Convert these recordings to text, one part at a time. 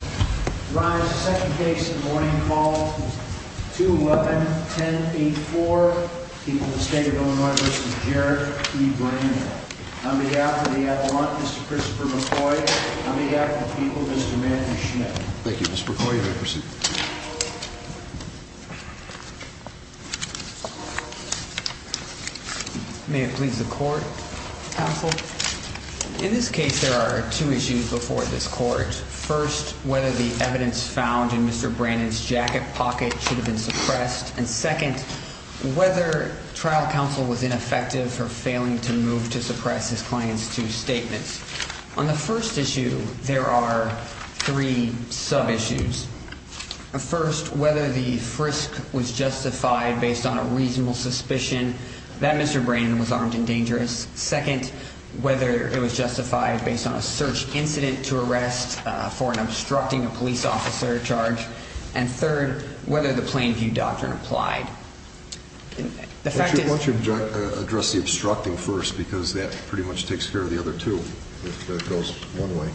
The second case of the morning call is 2-11-10-84, people of the state of Illinois v. Jarrett v. Brannon. On behalf of the Avalanche, Mr. Christopher McCoy. On behalf of the people, Mr. Matthew Schmidt. Thank you, Mr. McCoy. You may proceed. May it please the Court, Counsel. In this case, there are two issues before this Court. First, whether the evidence found in Mr. Brannon's jacket pocket should have been suppressed. And second, whether trial counsel was ineffective for failing to move to suppress his client's two statements. On the first issue, there are three sub-issues. First, whether the frisk was justified based on a reasonable suspicion that Mr. Brannon was armed and dangerous. Second, whether it was justified based on a search incident to arrest for an obstructing a police officer charge. And third, whether the Plain View Doctrine applied. Why don't you address the obstructing first, because that pretty much takes care of the other two, if that goes one way.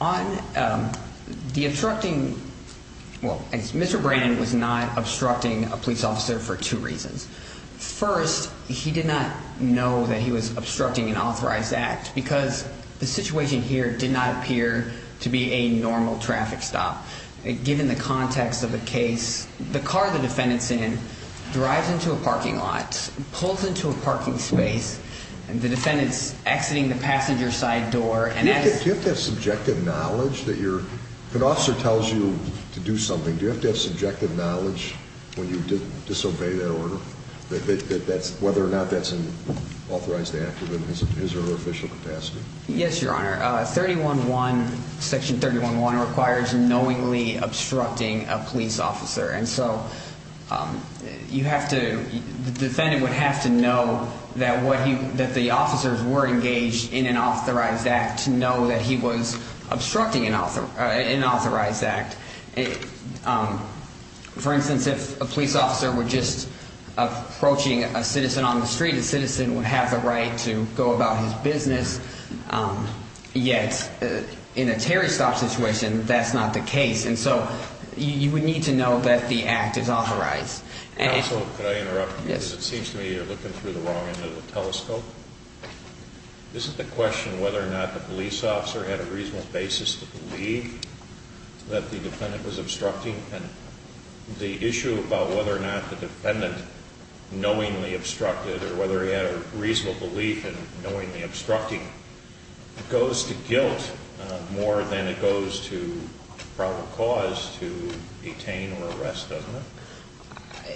On the obstructing, well, Mr. Brannon was not obstructing a police officer for two reasons. First, he did not know that he was obstructing an authorized act, because the situation here did not appear to be a normal traffic stop. Given the context of the case, the car the defendant's in drives into a parking lot, pulls into a parking space, and the defendant's exiting the passenger side door. Do you have to have subjective knowledge? If an officer tells you to do something, do you have to have subjective knowledge when you disobey that order, whether or not that's an authorized act within his or her official capacity? Yes, Your Honor. Section 311 requires knowingly obstructing a police officer. And so the defendant would have to know that the officers were engaged in an authorized act to know that he was obstructing an authorized act. For instance, if a police officer were just approaching a citizen on the street, the citizen would have the right to go about his business. Yet, in a Terry Stop situation, that's not the case. And so you would need to know that the act is authorized. Counsel, could I interrupt? Yes. It seems to me you're looking through the wrong end of the telescope. This is the question whether or not the police officer had a reasonable basis to believe that the defendant was obstructing. And the issue about whether or not the defendant knowingly obstructed or whether he had a reasonable belief in knowingly obstructing goes to guilt more than it goes to probable cause to detain or arrest, doesn't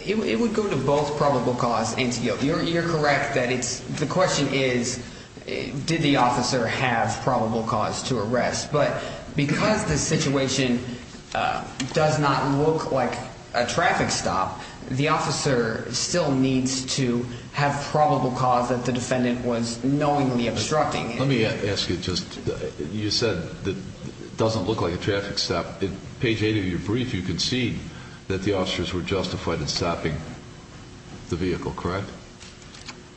it? It would go to both probable cause and to guilt. You're correct that the question is did the officer have probable cause to arrest. But because the situation does not look like a traffic stop, the officer still needs to have probable cause that the defendant was knowingly obstructing. Let me ask you, you said it doesn't look like a traffic stop. In page 8 of your brief, you concede that the officers were justified in stopping the vehicle, correct?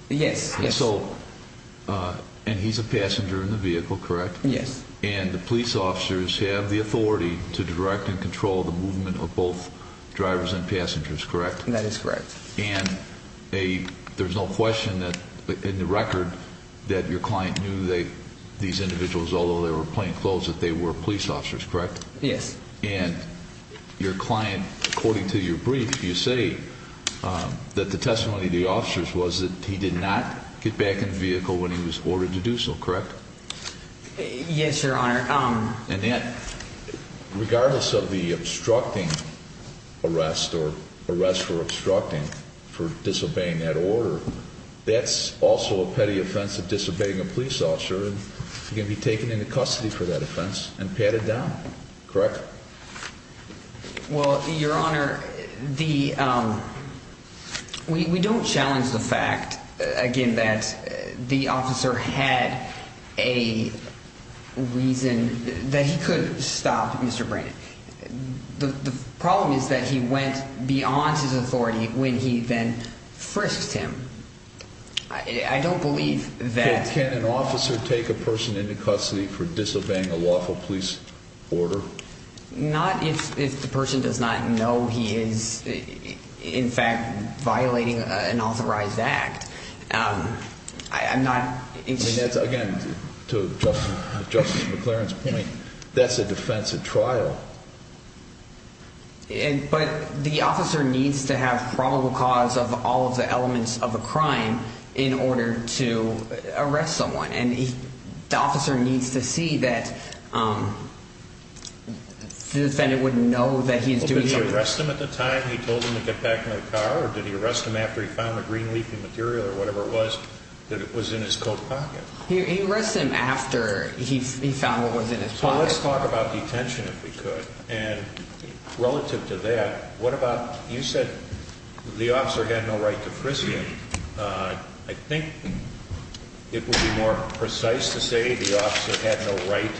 Yes. And he's a passenger in the vehicle, correct? Yes. And the police officers have the authority to direct and control the movement of both drivers and passengers, correct? That is correct. And there's no question in the record that your client knew these individuals, although they were plainclothes, that they were police officers, correct? Yes. And your client, according to your brief, you say that the testimony of the officers was that he did not get back in the vehicle when he was ordered to do so, correct? Yes, Your Honor. And that, regardless of the obstructing arrest or arrest for obstructing, for disobeying that order, that's also a petty offense of disobeying a police officer. He can be taken into custody for that offense and patted down, correct? Well, Your Honor, we don't challenge the fact, again, that the officer had a reason that he could stop Mr. Brannon. The problem is that he went beyond his authority when he then frisked him. I don't believe that... Would the officer take a person into custody for disobeying a lawful police order? Not if the person does not know he is, in fact, violating an authorized act. I'm not... Again, to Justice McLaren's point, that's a defense at trial. But the officer needs to have probable cause of all of the elements of a crime in order to arrest someone. And the officer needs to see that the defendant would know that he is doing something... Well, did he arrest him at the time he told him to get back in the car, or did he arrest him after he found the green leafy material or whatever it was that was in his coat pocket? He arrested him after he found what was in his pocket. So let's talk about detention, if we could. And relative to that, what about... You said the officer had no right to frisk him. I think it would be more precise to say the officer had no right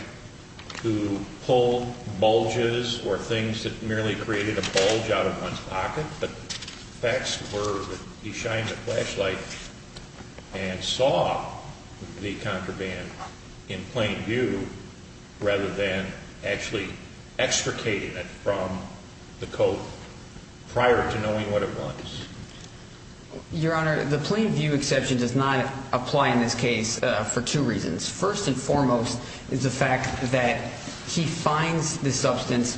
to pull bulges or things that merely created a bulge out of one's pocket, but the facts were that he shined a flashlight and saw the contraband in plain view rather than actually extricating it from the coat prior to knowing what it was. Your Honor, the plain view exception does not apply in this case for two reasons. First and foremost is the fact that he finds the substance,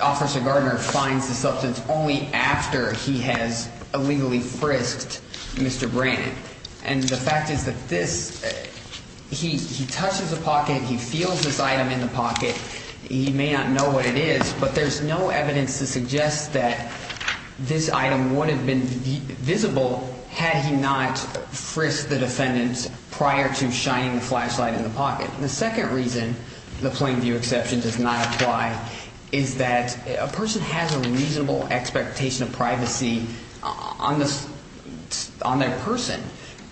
Officer Gardner finds the substance only after he has illegally frisked Mr. Brannan. And the fact is that this, he touches the pocket, he feels this item in the pocket, he may not know what it is, but there's no evidence to suggest that this item would have been visible had he not frisked the defendant prior to shining the flashlight in the pocket. The second reason the plain view exception does not apply is that a person has a reasonable expectation of privacy on their person.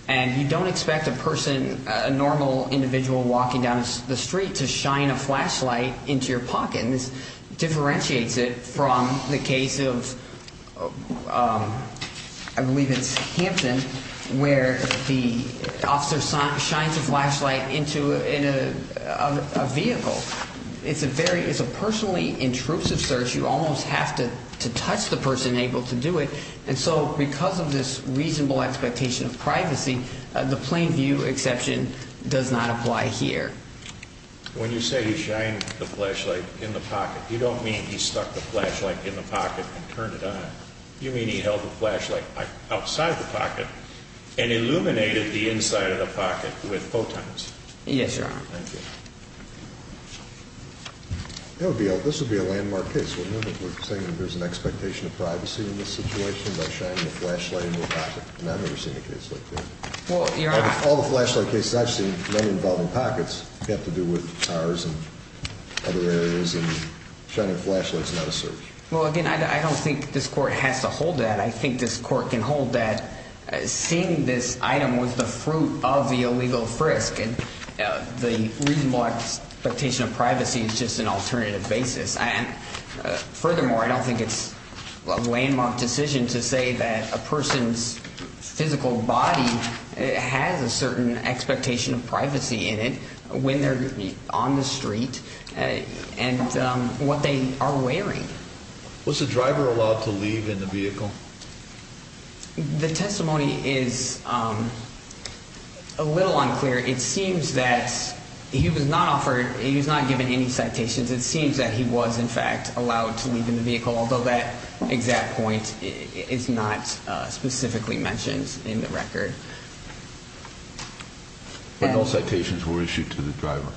And you don't expect a person, a normal individual walking down the street to shine a flashlight into your pocket. And this differentiates it from the case of, I believe it's Hampton, where the officer shines a flashlight into a vehicle. It's a personally intrusive search. You almost have to touch the person able to do it. And so because of this reasonable expectation of privacy, the plain view exception does not apply here. When you say he shined the flashlight in the pocket, you don't mean he stuck the flashlight in the pocket and turned it on. You mean he held the flashlight outside the pocket and illuminated the inside of the pocket with photons. Yes, Your Honor. Thank you. This would be a landmark case. Remember, we're saying there's an expectation of privacy in this situation by shining a flashlight in the pocket. And I've never seen a case like that. All the flashlight cases I've seen, none involving pockets, have to do with cars and other areas, and shining flashlights is not a search. Well, again, I don't think this court has to hold that. I think this court can hold that seeing this item was the fruit of the illegal frisk, and the reasonable expectation of privacy is just an alternative basis. Furthermore, I don't think it's a landmark decision to say that a person's physical body has a certain expectation of privacy in it when they're on the street and what they are wearing. Was the driver allowed to leave in the vehicle? The testimony is a little unclear. It seems that he was not offered, he was not given any citations. It seems that he was, in fact, allowed to leave in the vehicle, but no citations were issued to the driver.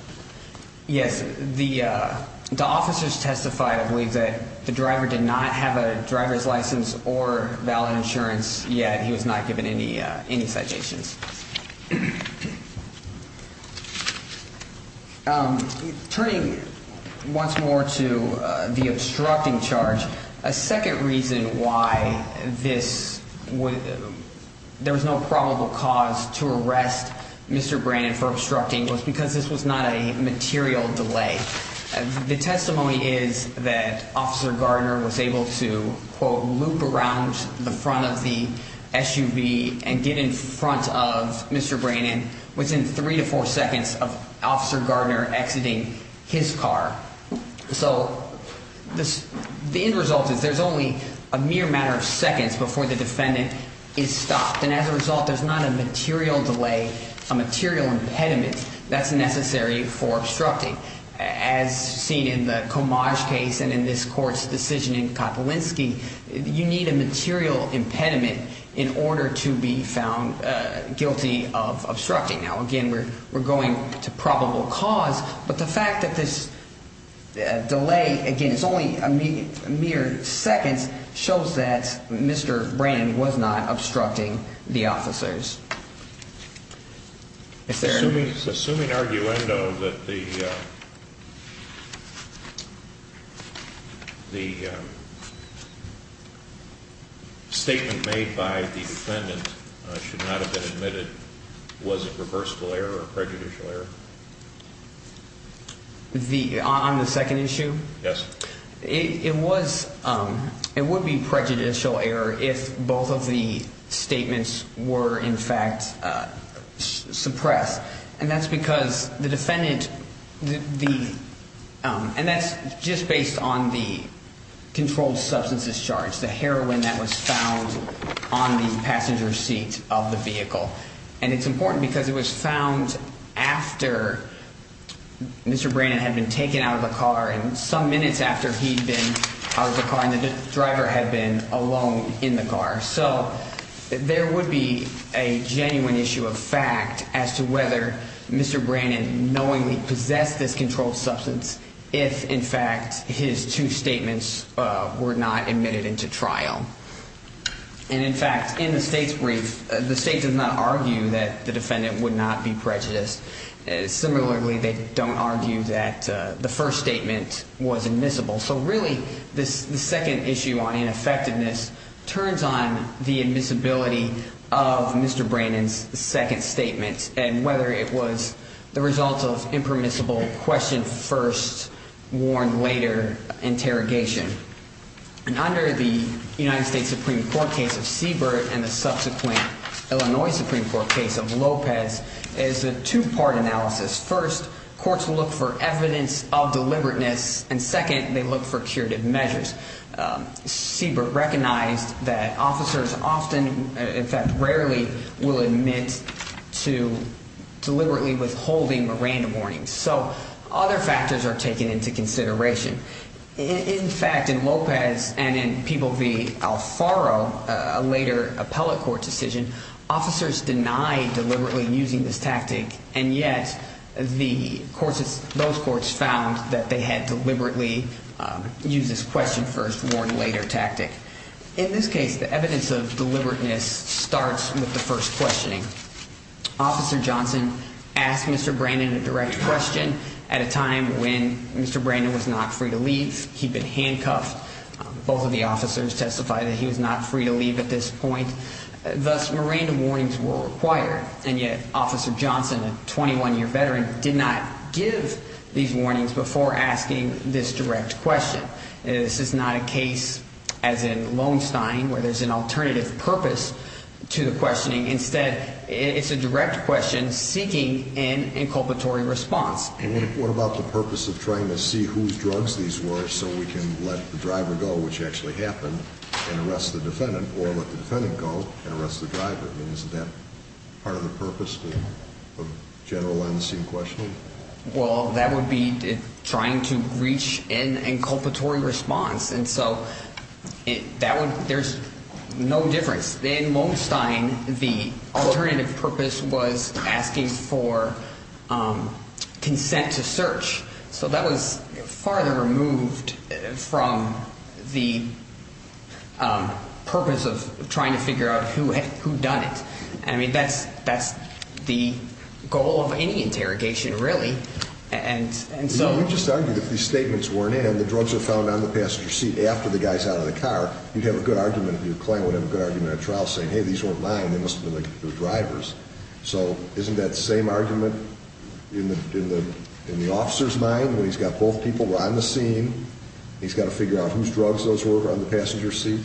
Yes, the officers testified, I believe, that the driver did not have a driver's license or valid insurance, yet he was not given any citations. Turning once more to the obstructing charge, a second reason why there was no probable cause to arrest Mr. Brannon for obstructing was because this was not a material delay. The testimony is that Officer Gardner was able to, quote, around the front of the SUV and get in front of Mr. Brannon within three to four seconds of Officer Gardner exiting his car. So the end result is there's only a mere matter of seconds before the defendant is stopped, and as a result, there's not a material delay, a material impediment that's necessary for obstructing. As seen in the Comage case and in this Court's decision in Kopolinsky, you need a material impediment in order to be found guilty of obstructing. Now, again, we're going to probable cause, but the fact that this delay, again, it's only a mere second, shows that Mr. Brannon was not obstructing the officers. Assuming arguendo that the statement made by the defendant should not have been admitted, was it reversible error or prejudicial error? On the second issue? Yes. It would be prejudicial error if both of the statements were, in fact, suppressed, and that's because the defendant, and that's just based on the controlled substances charge, the heroin that was found on the passenger seat of the vehicle, and it's important because it was found after Mr. Brannon had been taken out of the car and some minutes after he'd been out of the car and the driver had been alone in the car. So there would be a genuine issue of fact as to whether Mr. Brannon knowingly possessed this controlled substance if, in fact, his two statements were not admitted into trial. And, in fact, in the State's brief, the State does not argue that the defendant would not be prejudiced. Similarly, they don't argue that the first statement was admissible. So, really, the second issue on ineffectiveness turns on the admissibility of Mr. Brannon's second statement and whether it was the result of impermissible question-first-warned-later interrogation. And under the United States Supreme Court case of Siebert and the subsequent Illinois Supreme Court case of Lopez, there's a two-part analysis. First, courts look for evidence of deliberateness, and second, they look for curative measures. Siebert recognized that officers often, in fact, rarely will admit to deliberately withholding a random warning. So other factors are taken into consideration. In fact, in Lopez and in People v. Alfaro, a later appellate court decision, officers denied deliberately using this tactic, and yet those courts found that they had deliberately used this question-first-warned-later tactic. In this case, the evidence of deliberateness starts with the first questioning. Officer Johnson asked Mr. Brannon a direct question at a time when Mr. Brannon was not free to leave. He'd been handcuffed. Both of the officers testified that he was not free to leave at this point. Thus, more random warnings were required, and yet Officer Johnson, a 21-year veteran, did not give these warnings before asking this direct question. This is not a case, as in Loewenstein, where there's an alternative purpose to the questioning. Instead, it's a direct question seeking an inculpatory response. And what about the purpose of trying to see whose drugs these were so we can let the driver go, which actually happened, and arrest the defendant, or let the defendant go and arrest the driver? I mean, isn't that part of the purpose of general on-the-scene questioning? Well, that would be trying to reach an inculpatory response, and so that would – there's no difference. In Loewenstein, the alternative purpose was asking for consent to search. So that was farther removed from the purpose of trying to figure out who had done it. I mean, that's the goal of any interrogation, really. And so – You just argued if these statements weren't in and the drugs were found on the passenger seat after the guy's out of the car, you'd have a good argument – your client would have a good argument at trial saying, hey, these weren't mine. They must have been the driver's. So isn't that same argument in the officer's mind when he's got both people on the scene, he's got to figure out whose drugs those were on the passenger seat?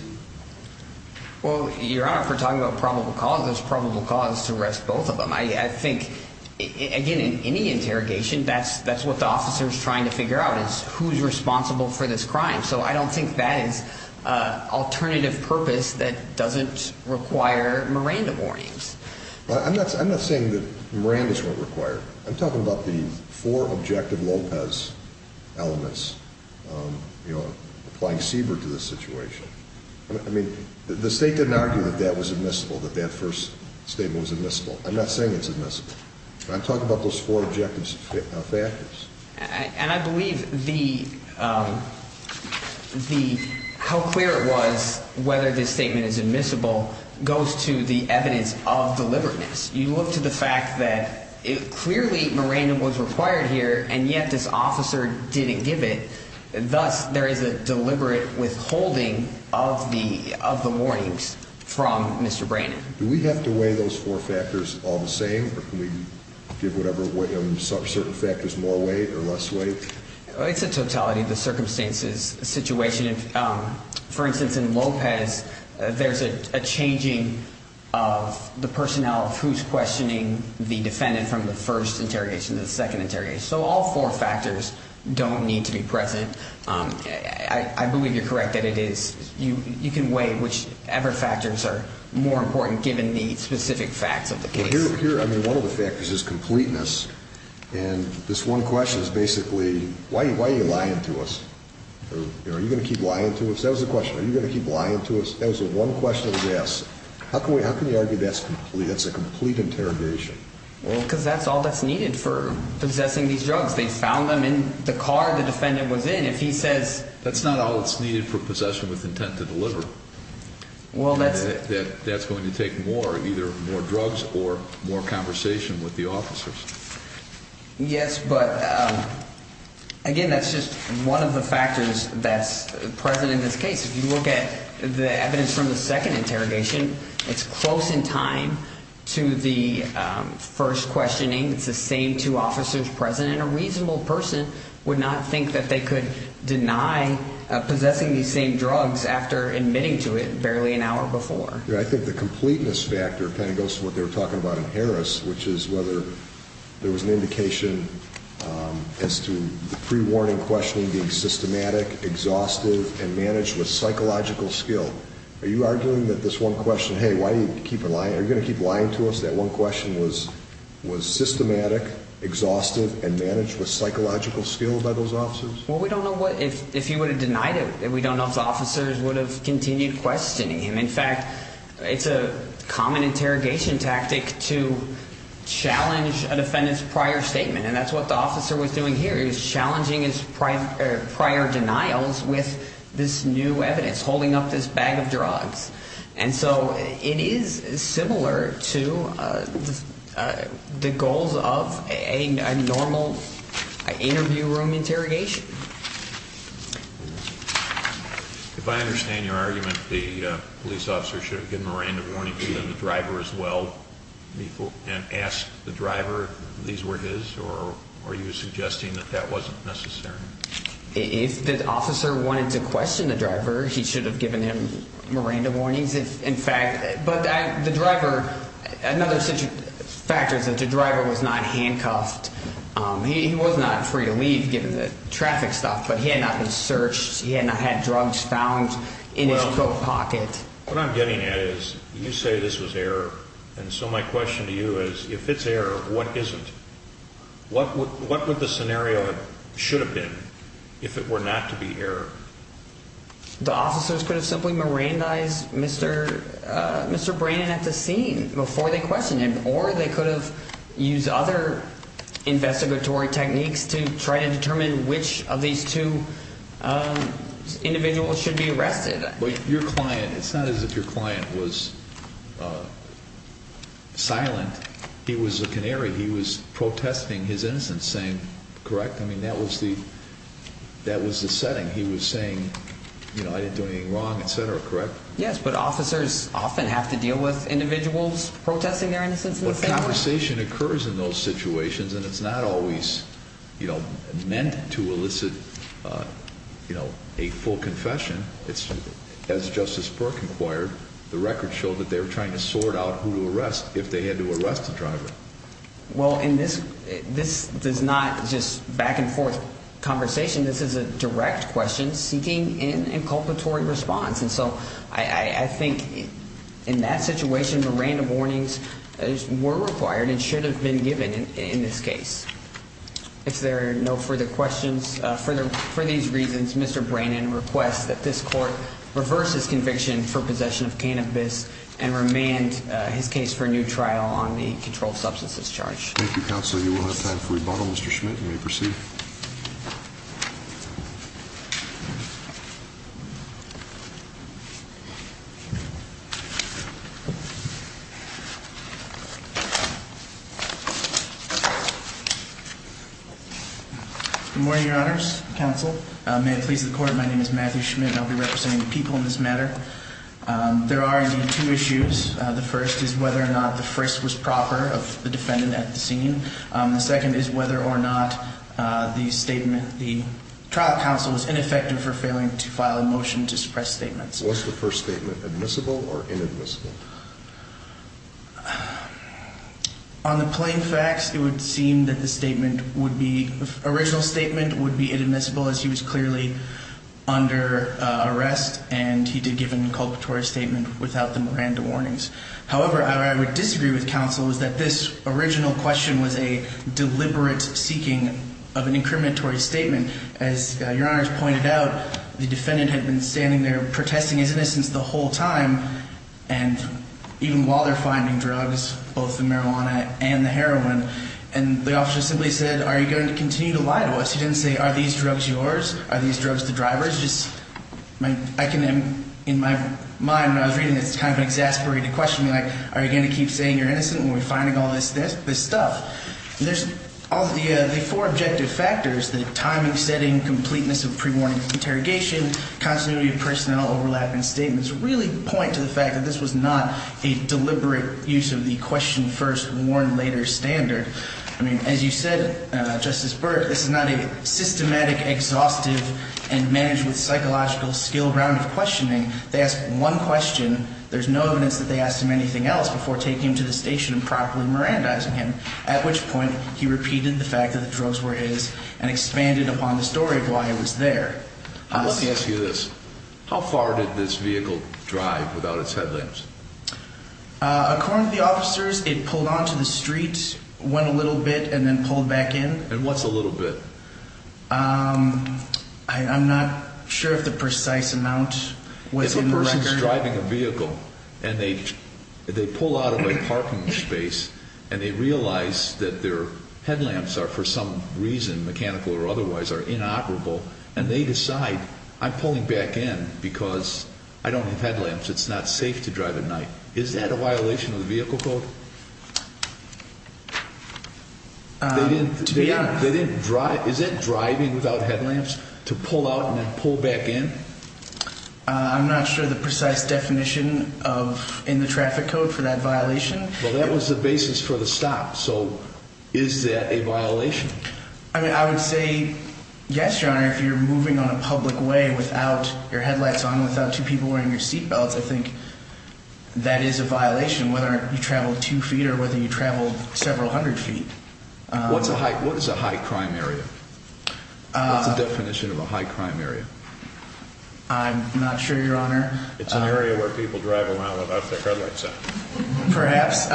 Well, Your Honor, if we're talking about probable cause, there's probable cause to arrest both of them. I think, again, in any interrogation, that's what the officer's trying to figure out is who's responsible for this crime. So I don't think that is alternative purpose that doesn't require Miranda warnings. I'm not saying that Miranda's weren't required. I'm talking about the four objective Lopez elements, you know, applying CBER to this situation. I mean, the State didn't argue that that was admissible, that that first statement was admissible. I'm not saying it's admissible. I'm talking about those four objective factors. And I believe the how clear it was whether this statement is admissible goes to the evidence of deliberateness. You look to the fact that clearly Miranda was required here, and yet this officer didn't give it. Thus, there is a deliberate withholding of the warnings from Mr. Brandon. Do we have to weigh those four factors all the same? Or can we give whatever certain factors more weight or less weight? It's a totality of the circumstances situation. For instance, in Lopez, there's a changing of the personnel of who's questioning the defendant from the first interrogation to the second interrogation. So all four factors don't need to be present. I believe you're correct that it is. You can weigh whichever factors are more important given the specific facts of the case. But here, I mean, one of the factors is completeness. And this one question is basically, why are you lying to us? Are you going to keep lying to us? That was the question. Are you going to keep lying to us? That was the one question he asked. How can you argue that's a complete interrogation? Well, because that's all that's needed for possessing these drugs. They found them in the car the defendant was in. If he says… That's not all that's needed for possession with intent to deliver. Well, that's… That's going to take more, either more drugs or more conversation with the officers. Yes, but, again, that's just one of the factors that's present in this case. If you look at the evidence from the second interrogation, it's close in time to the first questioning. It's the same two officers present. And a reasonable person would not think that they could deny possessing these same drugs after admitting to it barely an hour before. I think the completeness factor kind of goes to what they were talking about in Harris, which is whether there was an indication as to the pre-warning questioning being systematic, exhaustive, and managed with psychological skill. Are you arguing that this one question, hey, why do you keep lying? Are you going to keep lying to us? That one question was systematic, exhaustive, and managed with psychological skill by those officers? Well, we don't know if he would have denied it. We don't know if the officers would have continued questioning him. In fact, it's a common interrogation tactic to challenge a defendant's prior statement. And that's what the officer was doing here. He was challenging his prior denials with this new evidence, holding up this bag of drugs. And so it is similar to the goals of a normal interview room interrogation. If I understand your argument, the police officer should have given a random warning to the driver as well and asked the driver if these were his, or are you suggesting that that wasn't necessary? If the officer wanted to question the driver, he should have given him random warnings. In fact, but the driver, another such factor is that the driver was not handcuffed. He was not free to leave given the traffic stuff, but he had not been searched. He had not had drugs found in his coat pocket. What I'm getting at is you say this was error, and so my question to you is if it's error, what isn't? What would the scenario should have been if it were not to be error? The officers could have simply mirandized Mr. Brannon at the scene before they questioned him, or they could have used other investigatory techniques to try to determine which of these two individuals should be arrested. But your client, it's not as if your client was silent. He was a canary. He was protesting his innocence, correct? I mean, that was the setting. He was saying, you know, I didn't do anything wrong, et cetera, correct? Yes, but officers often have to deal with individuals protesting their innocence in the same way. The conversation occurs in those situations, and it's not always, you know, meant to elicit, you know, a full confession. As Justice Burke inquired, the record showed that they were trying to sort out who to arrest if they had to arrest the driver. Well, this is not just back-and-forth conversation. This is a direct question seeking an inculpatory response. And so I think in that situation, mirandum warnings were required and should have been given in this case. If there are no further questions, for these reasons, Mr. Brannon requests that this court reverse his conviction for possession of cannabis and remand his case for a new trial on the controlled substances charge. Thank you, Counselor. You will have time for rebuttal. Mr. Schmidt, you may proceed. Good morning, Your Honors, Counsel. May it please the Court, my name is Matthew Schmidt, and I'll be representing the people in this matter. There are, indeed, two issues. The first is whether or not the frisk was proper of the defendant at the scene. The second is whether or not the trial counsel was ineffective for failing to file a motion to suppress statements. Was the first statement admissible or inadmissible? On the plain facts, it would seem that the original statement would be inadmissible as he was clearly under arrest and he did give an inculpatory statement without the mirandum warnings. However, what I would disagree with, Counsel, is that this original question was a deliberate seeking of an incriminatory statement. As Your Honors pointed out, the defendant had been standing there protesting his innocence the whole time, and even while they're finding drugs, both the marijuana and the heroin, and the officer simply said, are you going to continue to lie to us? He didn't say, are these drugs yours? Are these drugs the driver's? In my mind when I was reading this, it's kind of an exasperated question. Are you going to keep saying you're innocent when we're finding all this stuff? The four objective factors, the timing, setting, completeness of pre-warning interrogation, continuity of personnel overlap in statements, really point to the fact that this was not a deliberate use of the question first, warn later standard. I mean, as you said, Justice Burke, this is not a systematic, exhaustive, and managed with psychological skill round of questioning. They asked one question. There's no evidence that they asked him anything else before taking him to the station and properly mirandizing him, at which point he repeated the fact that the drugs were his and expanded upon the story of why he was there. Let me ask you this. How far did this vehicle drive without its headlamps? According to the officers, it pulled onto the street, went a little bit, and then pulled back in. And what's a little bit? I'm not sure if the precise amount was in the record. If a person's driving a vehicle and they pull out of a parking space and they realize that their headlamps are for some reason, mechanical or otherwise, are inoperable, and they decide, I'm pulling back in because I don't have headlamps. It's not safe to drive at night. Is that a violation of the vehicle code? To be honest. Is it driving without headlamps to pull out and then pull back in? I'm not sure of the precise definition in the traffic code for that violation. Well, that was the basis for the stop. So is that a violation? I would say yes, Your Honor, if you're moving on a public way without your headlights on, without two people wearing your seatbelts, I think that is a violation, whether you travel two feet or whether you travel several hundred feet. What is a high crime area? What's the definition of a high crime area? I'm not sure, Your Honor. It's an area where people drive around without their headlights on. Perhaps.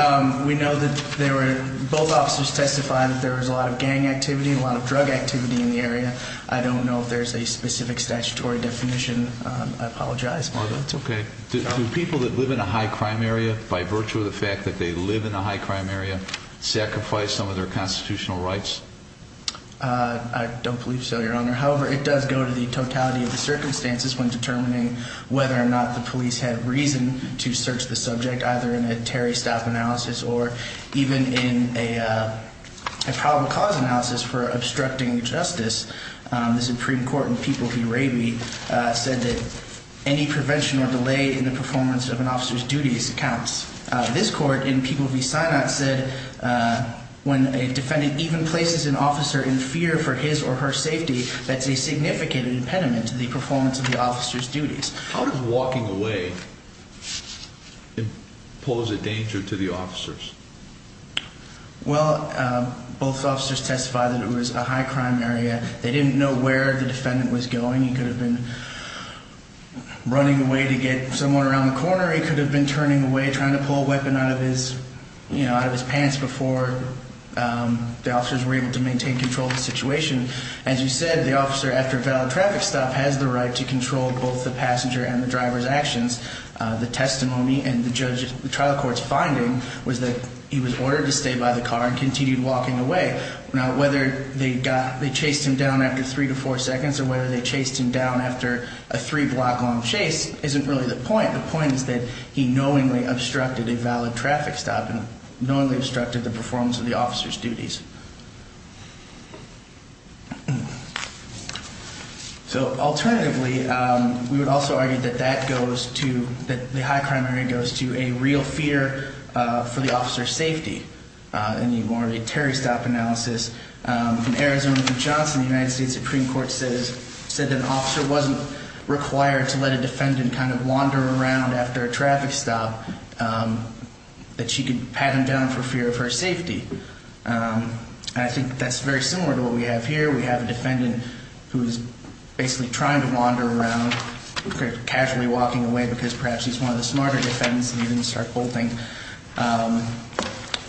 We know that both officers testified that there was a lot of gang activity and a lot of drug activity in the area. I don't know if there's a specific statutory definition. I apologize. That's okay. Do people that live in a high crime area, by virtue of the fact that they live in a high crime area, sacrifice some of their constitutional rights? I don't believe so, Your Honor. However, it does go to the totality of the circumstances when determining whether or not the police had reason to search the subject, either in a Terry staff analysis or even in a problem cause analysis for obstructing justice. The Supreme Court in People v. Raby said that any prevention or delay in the performance of an officer's duties counts. This court in People v. Synod said when a defendant even places an officer in fear for his or her safety, that's a significant impediment to the performance of the officer's duties. How does walking away pose a danger to the officers? Well, both officers testified that it was a high crime area. They didn't know where the defendant was going. He could have been running away to get someone around the corner. He could have been turning away, trying to pull a weapon out of his pants before the officers were able to maintain control of the situation. As you said, the officer, after a valid traffic stop, has the right to control both the passenger and the driver's actions. The testimony and the trial court's finding was that he was ordered to stay by the car and continued walking away. Now, whether they chased him down after three to four seconds or whether they chased him down after a three block long chase isn't really the point. The point is that he knowingly obstructed a valid traffic stop and knowingly obstructed the performance of the officer's duties. So alternatively, we would also argue that that goes to, that the high crime area goes to a real fear for the officer's safety. In the more of a Terry stop analysis, in Arizona v. Johnson, the United States Supreme Court said that an officer wasn't required to let a defendant kind of wander around after a traffic stop, that she could pat him down for fear of her safety. And I think that's very similar to what we have here. We have a defendant who is basically trying to wander around, casually walking away because perhaps he's one of the smarter defendants and he didn't start bolting.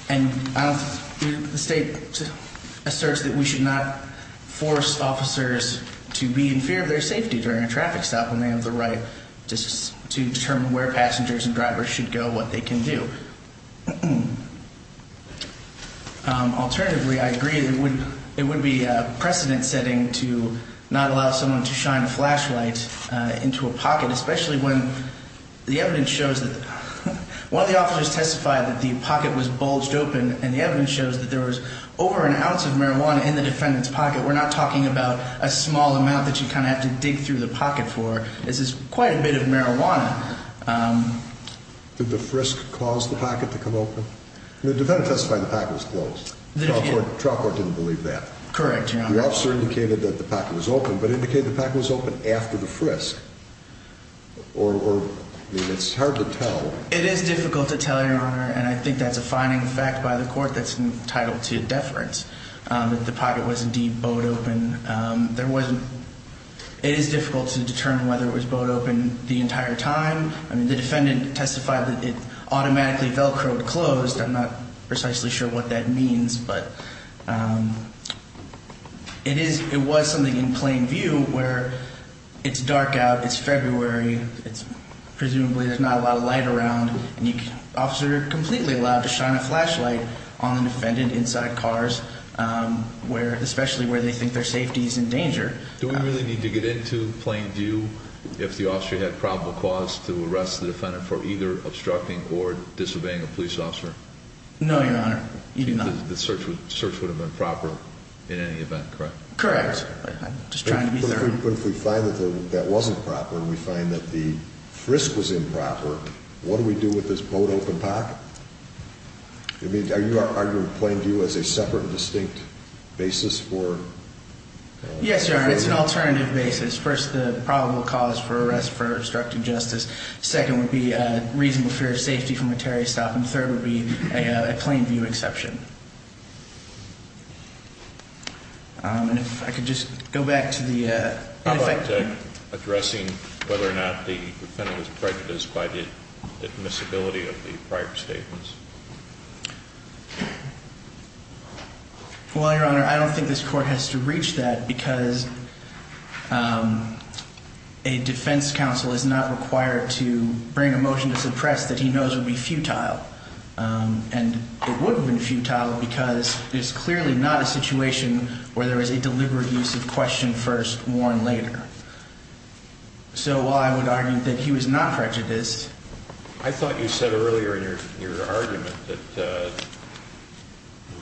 And the state asserts that we should not force officers to be in fear of their safety during a traffic stop when they have the right to determine where passengers and drivers should go, what they can do. Alternatively, I agree that it would be a precedent setting to not allow someone to shine a flashlight into a pocket, especially when the evidence shows that one of the officers testified that the pocket was bulged open and the evidence shows that there was over an ounce of marijuana in the defendant's pocket. We're not talking about a small amount that you kind of have to dig through the pocket for. This is quite a bit of marijuana. Did the frisk cause the pocket to come open? The defendant testified the pocket was closed. The trial court didn't believe that. Correct, Your Honor. The officer indicated that the pocket was open, but indicated the pocket was open after the frisk. Or it's hard to tell. It is difficult to tell, Your Honor. And I think that's a finding fact by the court that's entitled to deference, that the pocket was indeed bowed open. It is difficult to determine whether it was bowed open the entire time. I mean, the defendant testified that it automatically Velcroed closed. I'm not precisely sure what that means, but it was something in plain view where it's dark out, it's February, presumably there's not a lot of light around. Officers are completely allowed to shine a flashlight on the defendant inside cars, especially where they think their safety is in danger. Do we really need to get into plain view if the officer had probable cause to arrest the defendant for either obstructing or disobeying a police officer? No, Your Honor. The search would have been proper in any event, correct? Correct. I'm just trying to be thorough. But if we find that that wasn't proper and we find that the frisk was improper, what do we do with this bowed open pocket? I mean, are you arguing plain view as a separate, distinct basis for? Yes, Your Honor. It's an alternative basis. First, the probable cause for arrest for obstructing justice. Second would be reasonable fear of safety from a Terry stop. And third would be a plain view exception. And if I could just go back to the. Addressing whether or not the defendant was prejudiced by the admissibility of the prior statements. Well, Your Honor, I don't think this court has to reach that because a defense counsel is not required to bring a motion to suppress that he knows would be futile. And it would have been futile because there's clearly not a situation where there is a deliberate use of question first, warn later. So I would argue that he was not prejudiced. I thought you said earlier in your argument that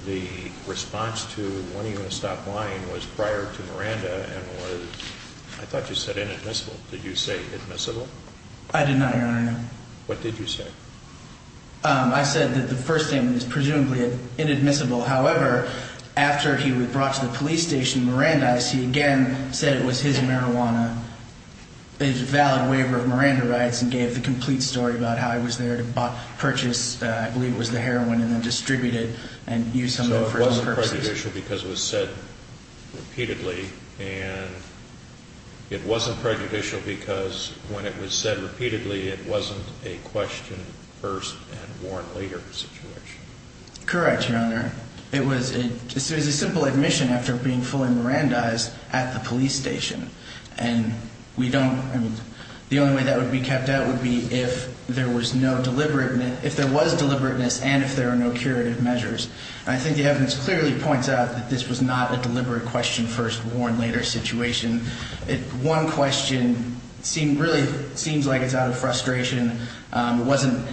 the response to wanting to stop lying was prior to Miranda. And I thought you said inadmissible. Did you say admissible? I did not, Your Honor. What did you say? I said that the first statement is presumably inadmissible. However, after he was brought to the police station, Miranda, I see again, said it was his marijuana. There's a valid waiver of Miranda rights and gave the complete story about how I was there to purchase. I believe it was the heroin and then distributed and use some of those. Because it was said repeatedly and it wasn't prejudicial because when it was said repeatedly, it wasn't a question first and warn later situation. Correct, Your Honor. It was a simple admission after being fully Miranda eyes at the police station. And we don't. I mean, the only way that would be kept out would be if there was no deliberate if there was deliberateness and if there are no curative measures. And I think the evidence clearly points out that this was not a deliberate question first, warn later situation. One question seemed really seems like it's out of frustration. It wasn't.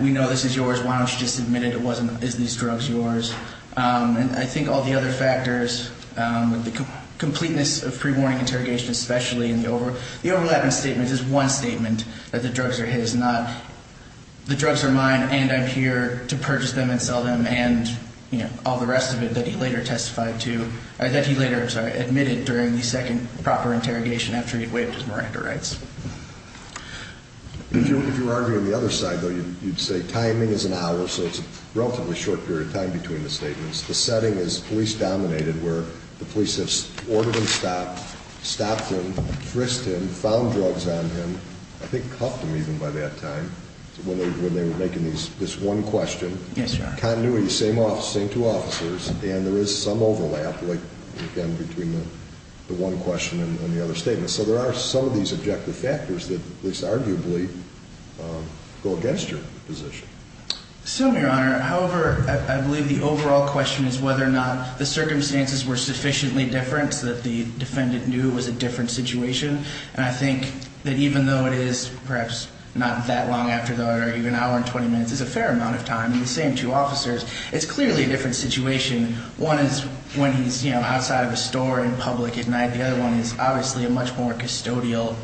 We know this is yours. Why don't you just admit it? It wasn't. Is these drugs yours? And I think all the other factors, the completeness of pre-warning interrogation, especially in the over. The overlap in statements is one statement that the drugs are his, not the drugs are mine. And I'm here to purchase them and sell them. And, you know, all the rest of it that he later testified to that he later admitted during the second proper interrogation after he'd waived his Miranda rights. If you were arguing the other side, though, you'd say timing is an hour. So it's a relatively short period of time between the statements. The setting is police dominated, where the police have ordered him to stop, stopped him, frisked him, found drugs on him. I think cuffed him even by that time when they were making this one question. Yes, Your Honor. Continuity, same two officers. And there is some overlap, again, between the one question and the other statement. So there are some of these objective factors that, at least arguably, go against your position. So, Your Honor, however, I believe the overall question is whether or not the circumstances were sufficiently different so that the defendant knew it was a different situation. And I think that even though it is perhaps not that long after the argument, an hour and 20 minutes is a fair amount of time in the same two officers. It's clearly a different situation. One is when he's, you know, outside of a store in public at night. The other one is obviously a much more custodial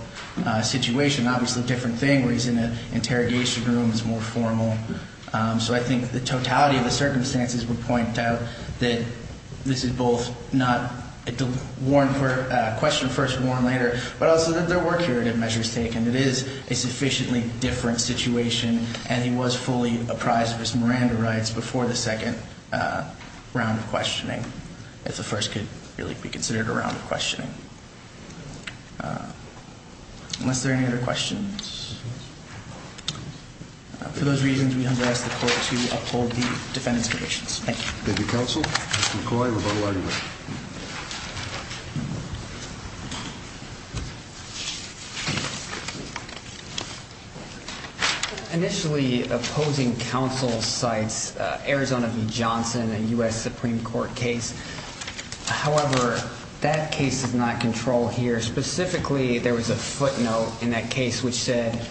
situation. Obviously a different thing where he's in an interrogation room is more formal. So I think the totality of the circumstances would point out that this is both not a question first, warn later, but also that there were curative measures taken. It is a sufficiently different situation, and he was fully apprised of his Miranda rights before the second round of questioning. If the first could really be considered a round of questioning. Unless there are any other questions. For those reasons, we have asked the court to uphold the defendant's conditions. Thank you. Thank you, Counsel. Mr. McCoy, rebuttal argument. Initially, opposing counsel cites Arizona v. Johnson, a U.S. Supreme Court case. However, that case is not controlled here. Specifically, there was a footnote in that case which said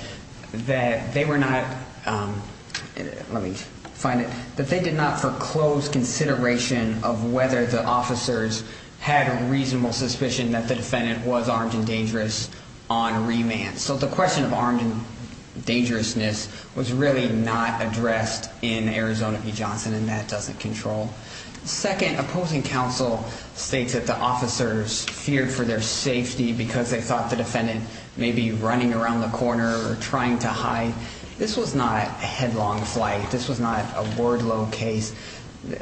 that they were not, let me find it, that they did not foreclose consideration of whether the officers had a reasonable suspicion that the defendant was armed and dangerous on remand. So the question of armed and dangerousness was really not addressed in Arizona v. Johnson, and that doesn't control. Second, opposing counsel states that the officers feared for their safety because they thought the defendant may be running around the corner or trying to hide. This was not a headlong flight. This was not a word low case.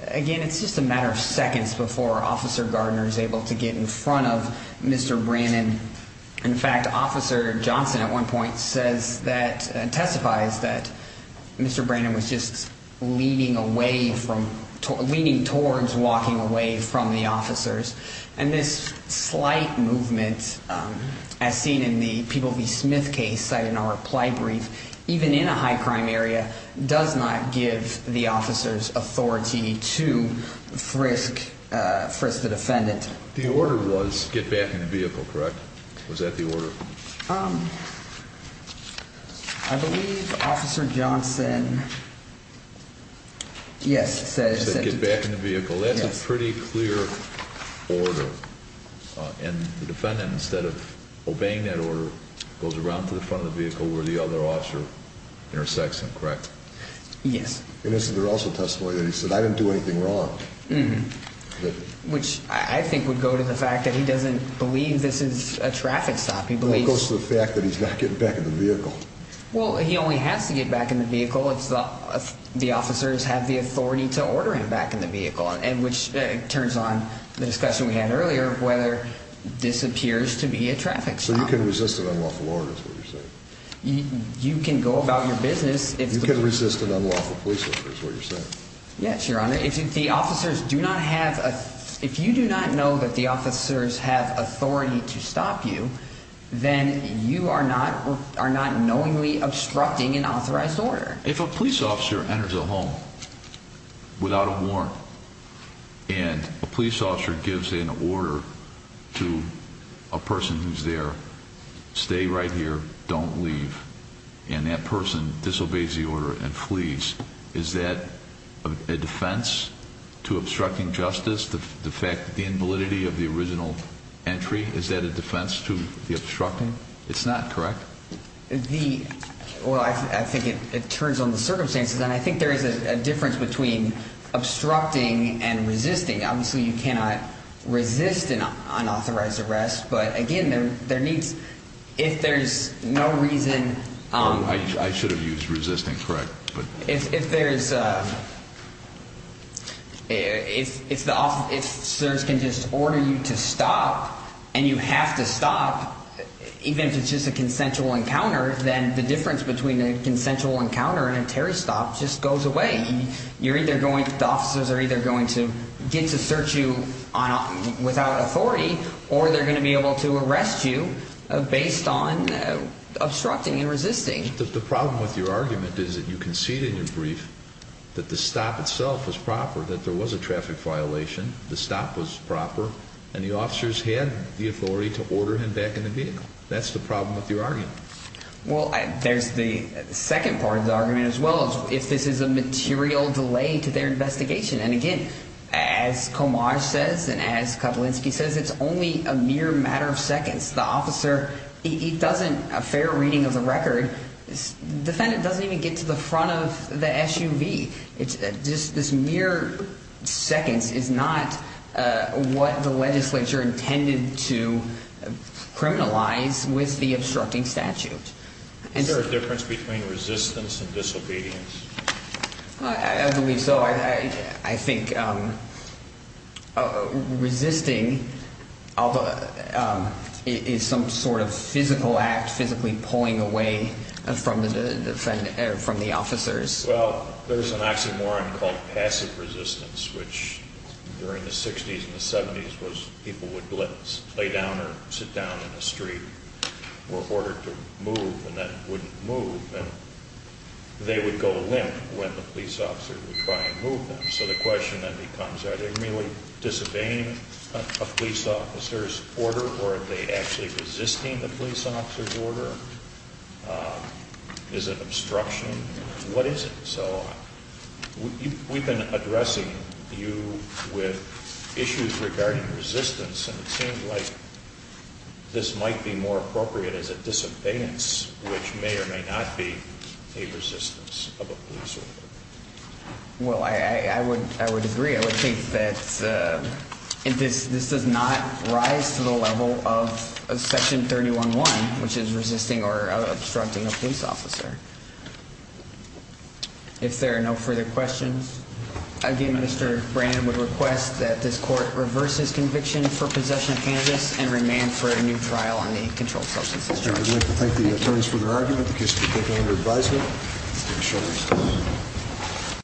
Again, it's just a matter of seconds before Officer Gardner is able to get in front of Mr. Brannon. In fact, Officer Johnson at one point says that, testifies that Mr. Brannon was just leaning away from, leaning towards walking away from the officers. And this slight movement, as seen in the People v. Smith case cited in our reply brief, even in a high-crime area does not give the officers authority to frisk the defendant. The order was get back in the vehicle, correct? Was that the order? I believe Officer Johnson, yes, said to get back in the vehicle. That's a pretty clear order. And the defendant, instead of obeying that order, goes around to the front of the vehicle where the other officer intersects him, correct? Yes. And this is also a testimony that he said, I didn't do anything wrong. Which I think would go to the fact that he doesn't believe this is a traffic stop. It goes to the fact that he's not getting back in the vehicle. Well, he only has to get back in the vehicle if the officers have the authority to order him back in the vehicle, which turns on the discussion we had earlier of whether this appears to be a traffic stop. So you can resist an unlawful order, is what you're saying? You can go about your business. You can resist an unlawful police order, is what you're saying? Yes, Your Honor. If you do not know that the officers have authority to stop you, then you are not knowingly obstructing an authorized order. If a police officer enters a home without a warrant and a police officer gives an order to a person who's there, stay right here, don't leave, and that person disobeys the order and flees, is that a defense to obstructing justice? The fact that the invalidity of the original entry, is that a defense to the obstructing? It's not, correct? Well, I think it turns on the circumstances, and I think there is a difference between obstructing and resisting. Obviously, you cannot resist an unauthorized arrest, but again, there needs, if there's no reason. I should have used resisting, correct? If there's, if the officers can just order you to stop, and you have to stop, even if it's just a consensual encounter, then the difference between a consensual encounter and a Terry stop just goes away. You're either going, the officers are either going to get to search you without authority, or they're going to be able to arrest you based on obstructing and resisting. The problem with your argument is that you concede in your brief that the stop itself was proper, that there was a traffic violation, the stop was proper, and the officers had the authority to order him back in the vehicle. That's the problem with your argument. Well, there's the second part of the argument as well, if this is a material delay to their investigation. And again, as Komar says, and as Kapolinski says, it's only a mere matter of seconds. The officer, he doesn't, a fair reading of the record, the defendant doesn't even get to the front of the SUV. This mere seconds is not what the legislature intended to criminalize with the obstructing statute. Is there a difference between resistance and disobedience? I believe so. I think resisting is some sort of physical act, physically pulling away from the officers. Well, there's an oxymoron called passive resistance, which during the 60s and the 70s, was people would let us lay down or sit down in the street were ordered to move, and that wouldn't move. And they would go limp when the police officer would try and move them. So the question then becomes, are they really disobeying a police officer's order, is it obstruction, what is it? So we've been addressing you with issues regarding resistance, and it seems like this might be more appropriate as a disobedience, which may or may not be a resistance of a police officer. Well, I would agree. I would think that this does not rise to the level of Section 311, which is resisting or obstructing a police officer. If there are no further questions, again, Mr. Brannon would request that this court reverses conviction for possession of cannabis and remand for a new trial on the controlled substances charge. I would like to thank the attorneys for their argument. The case will be taken under advisement.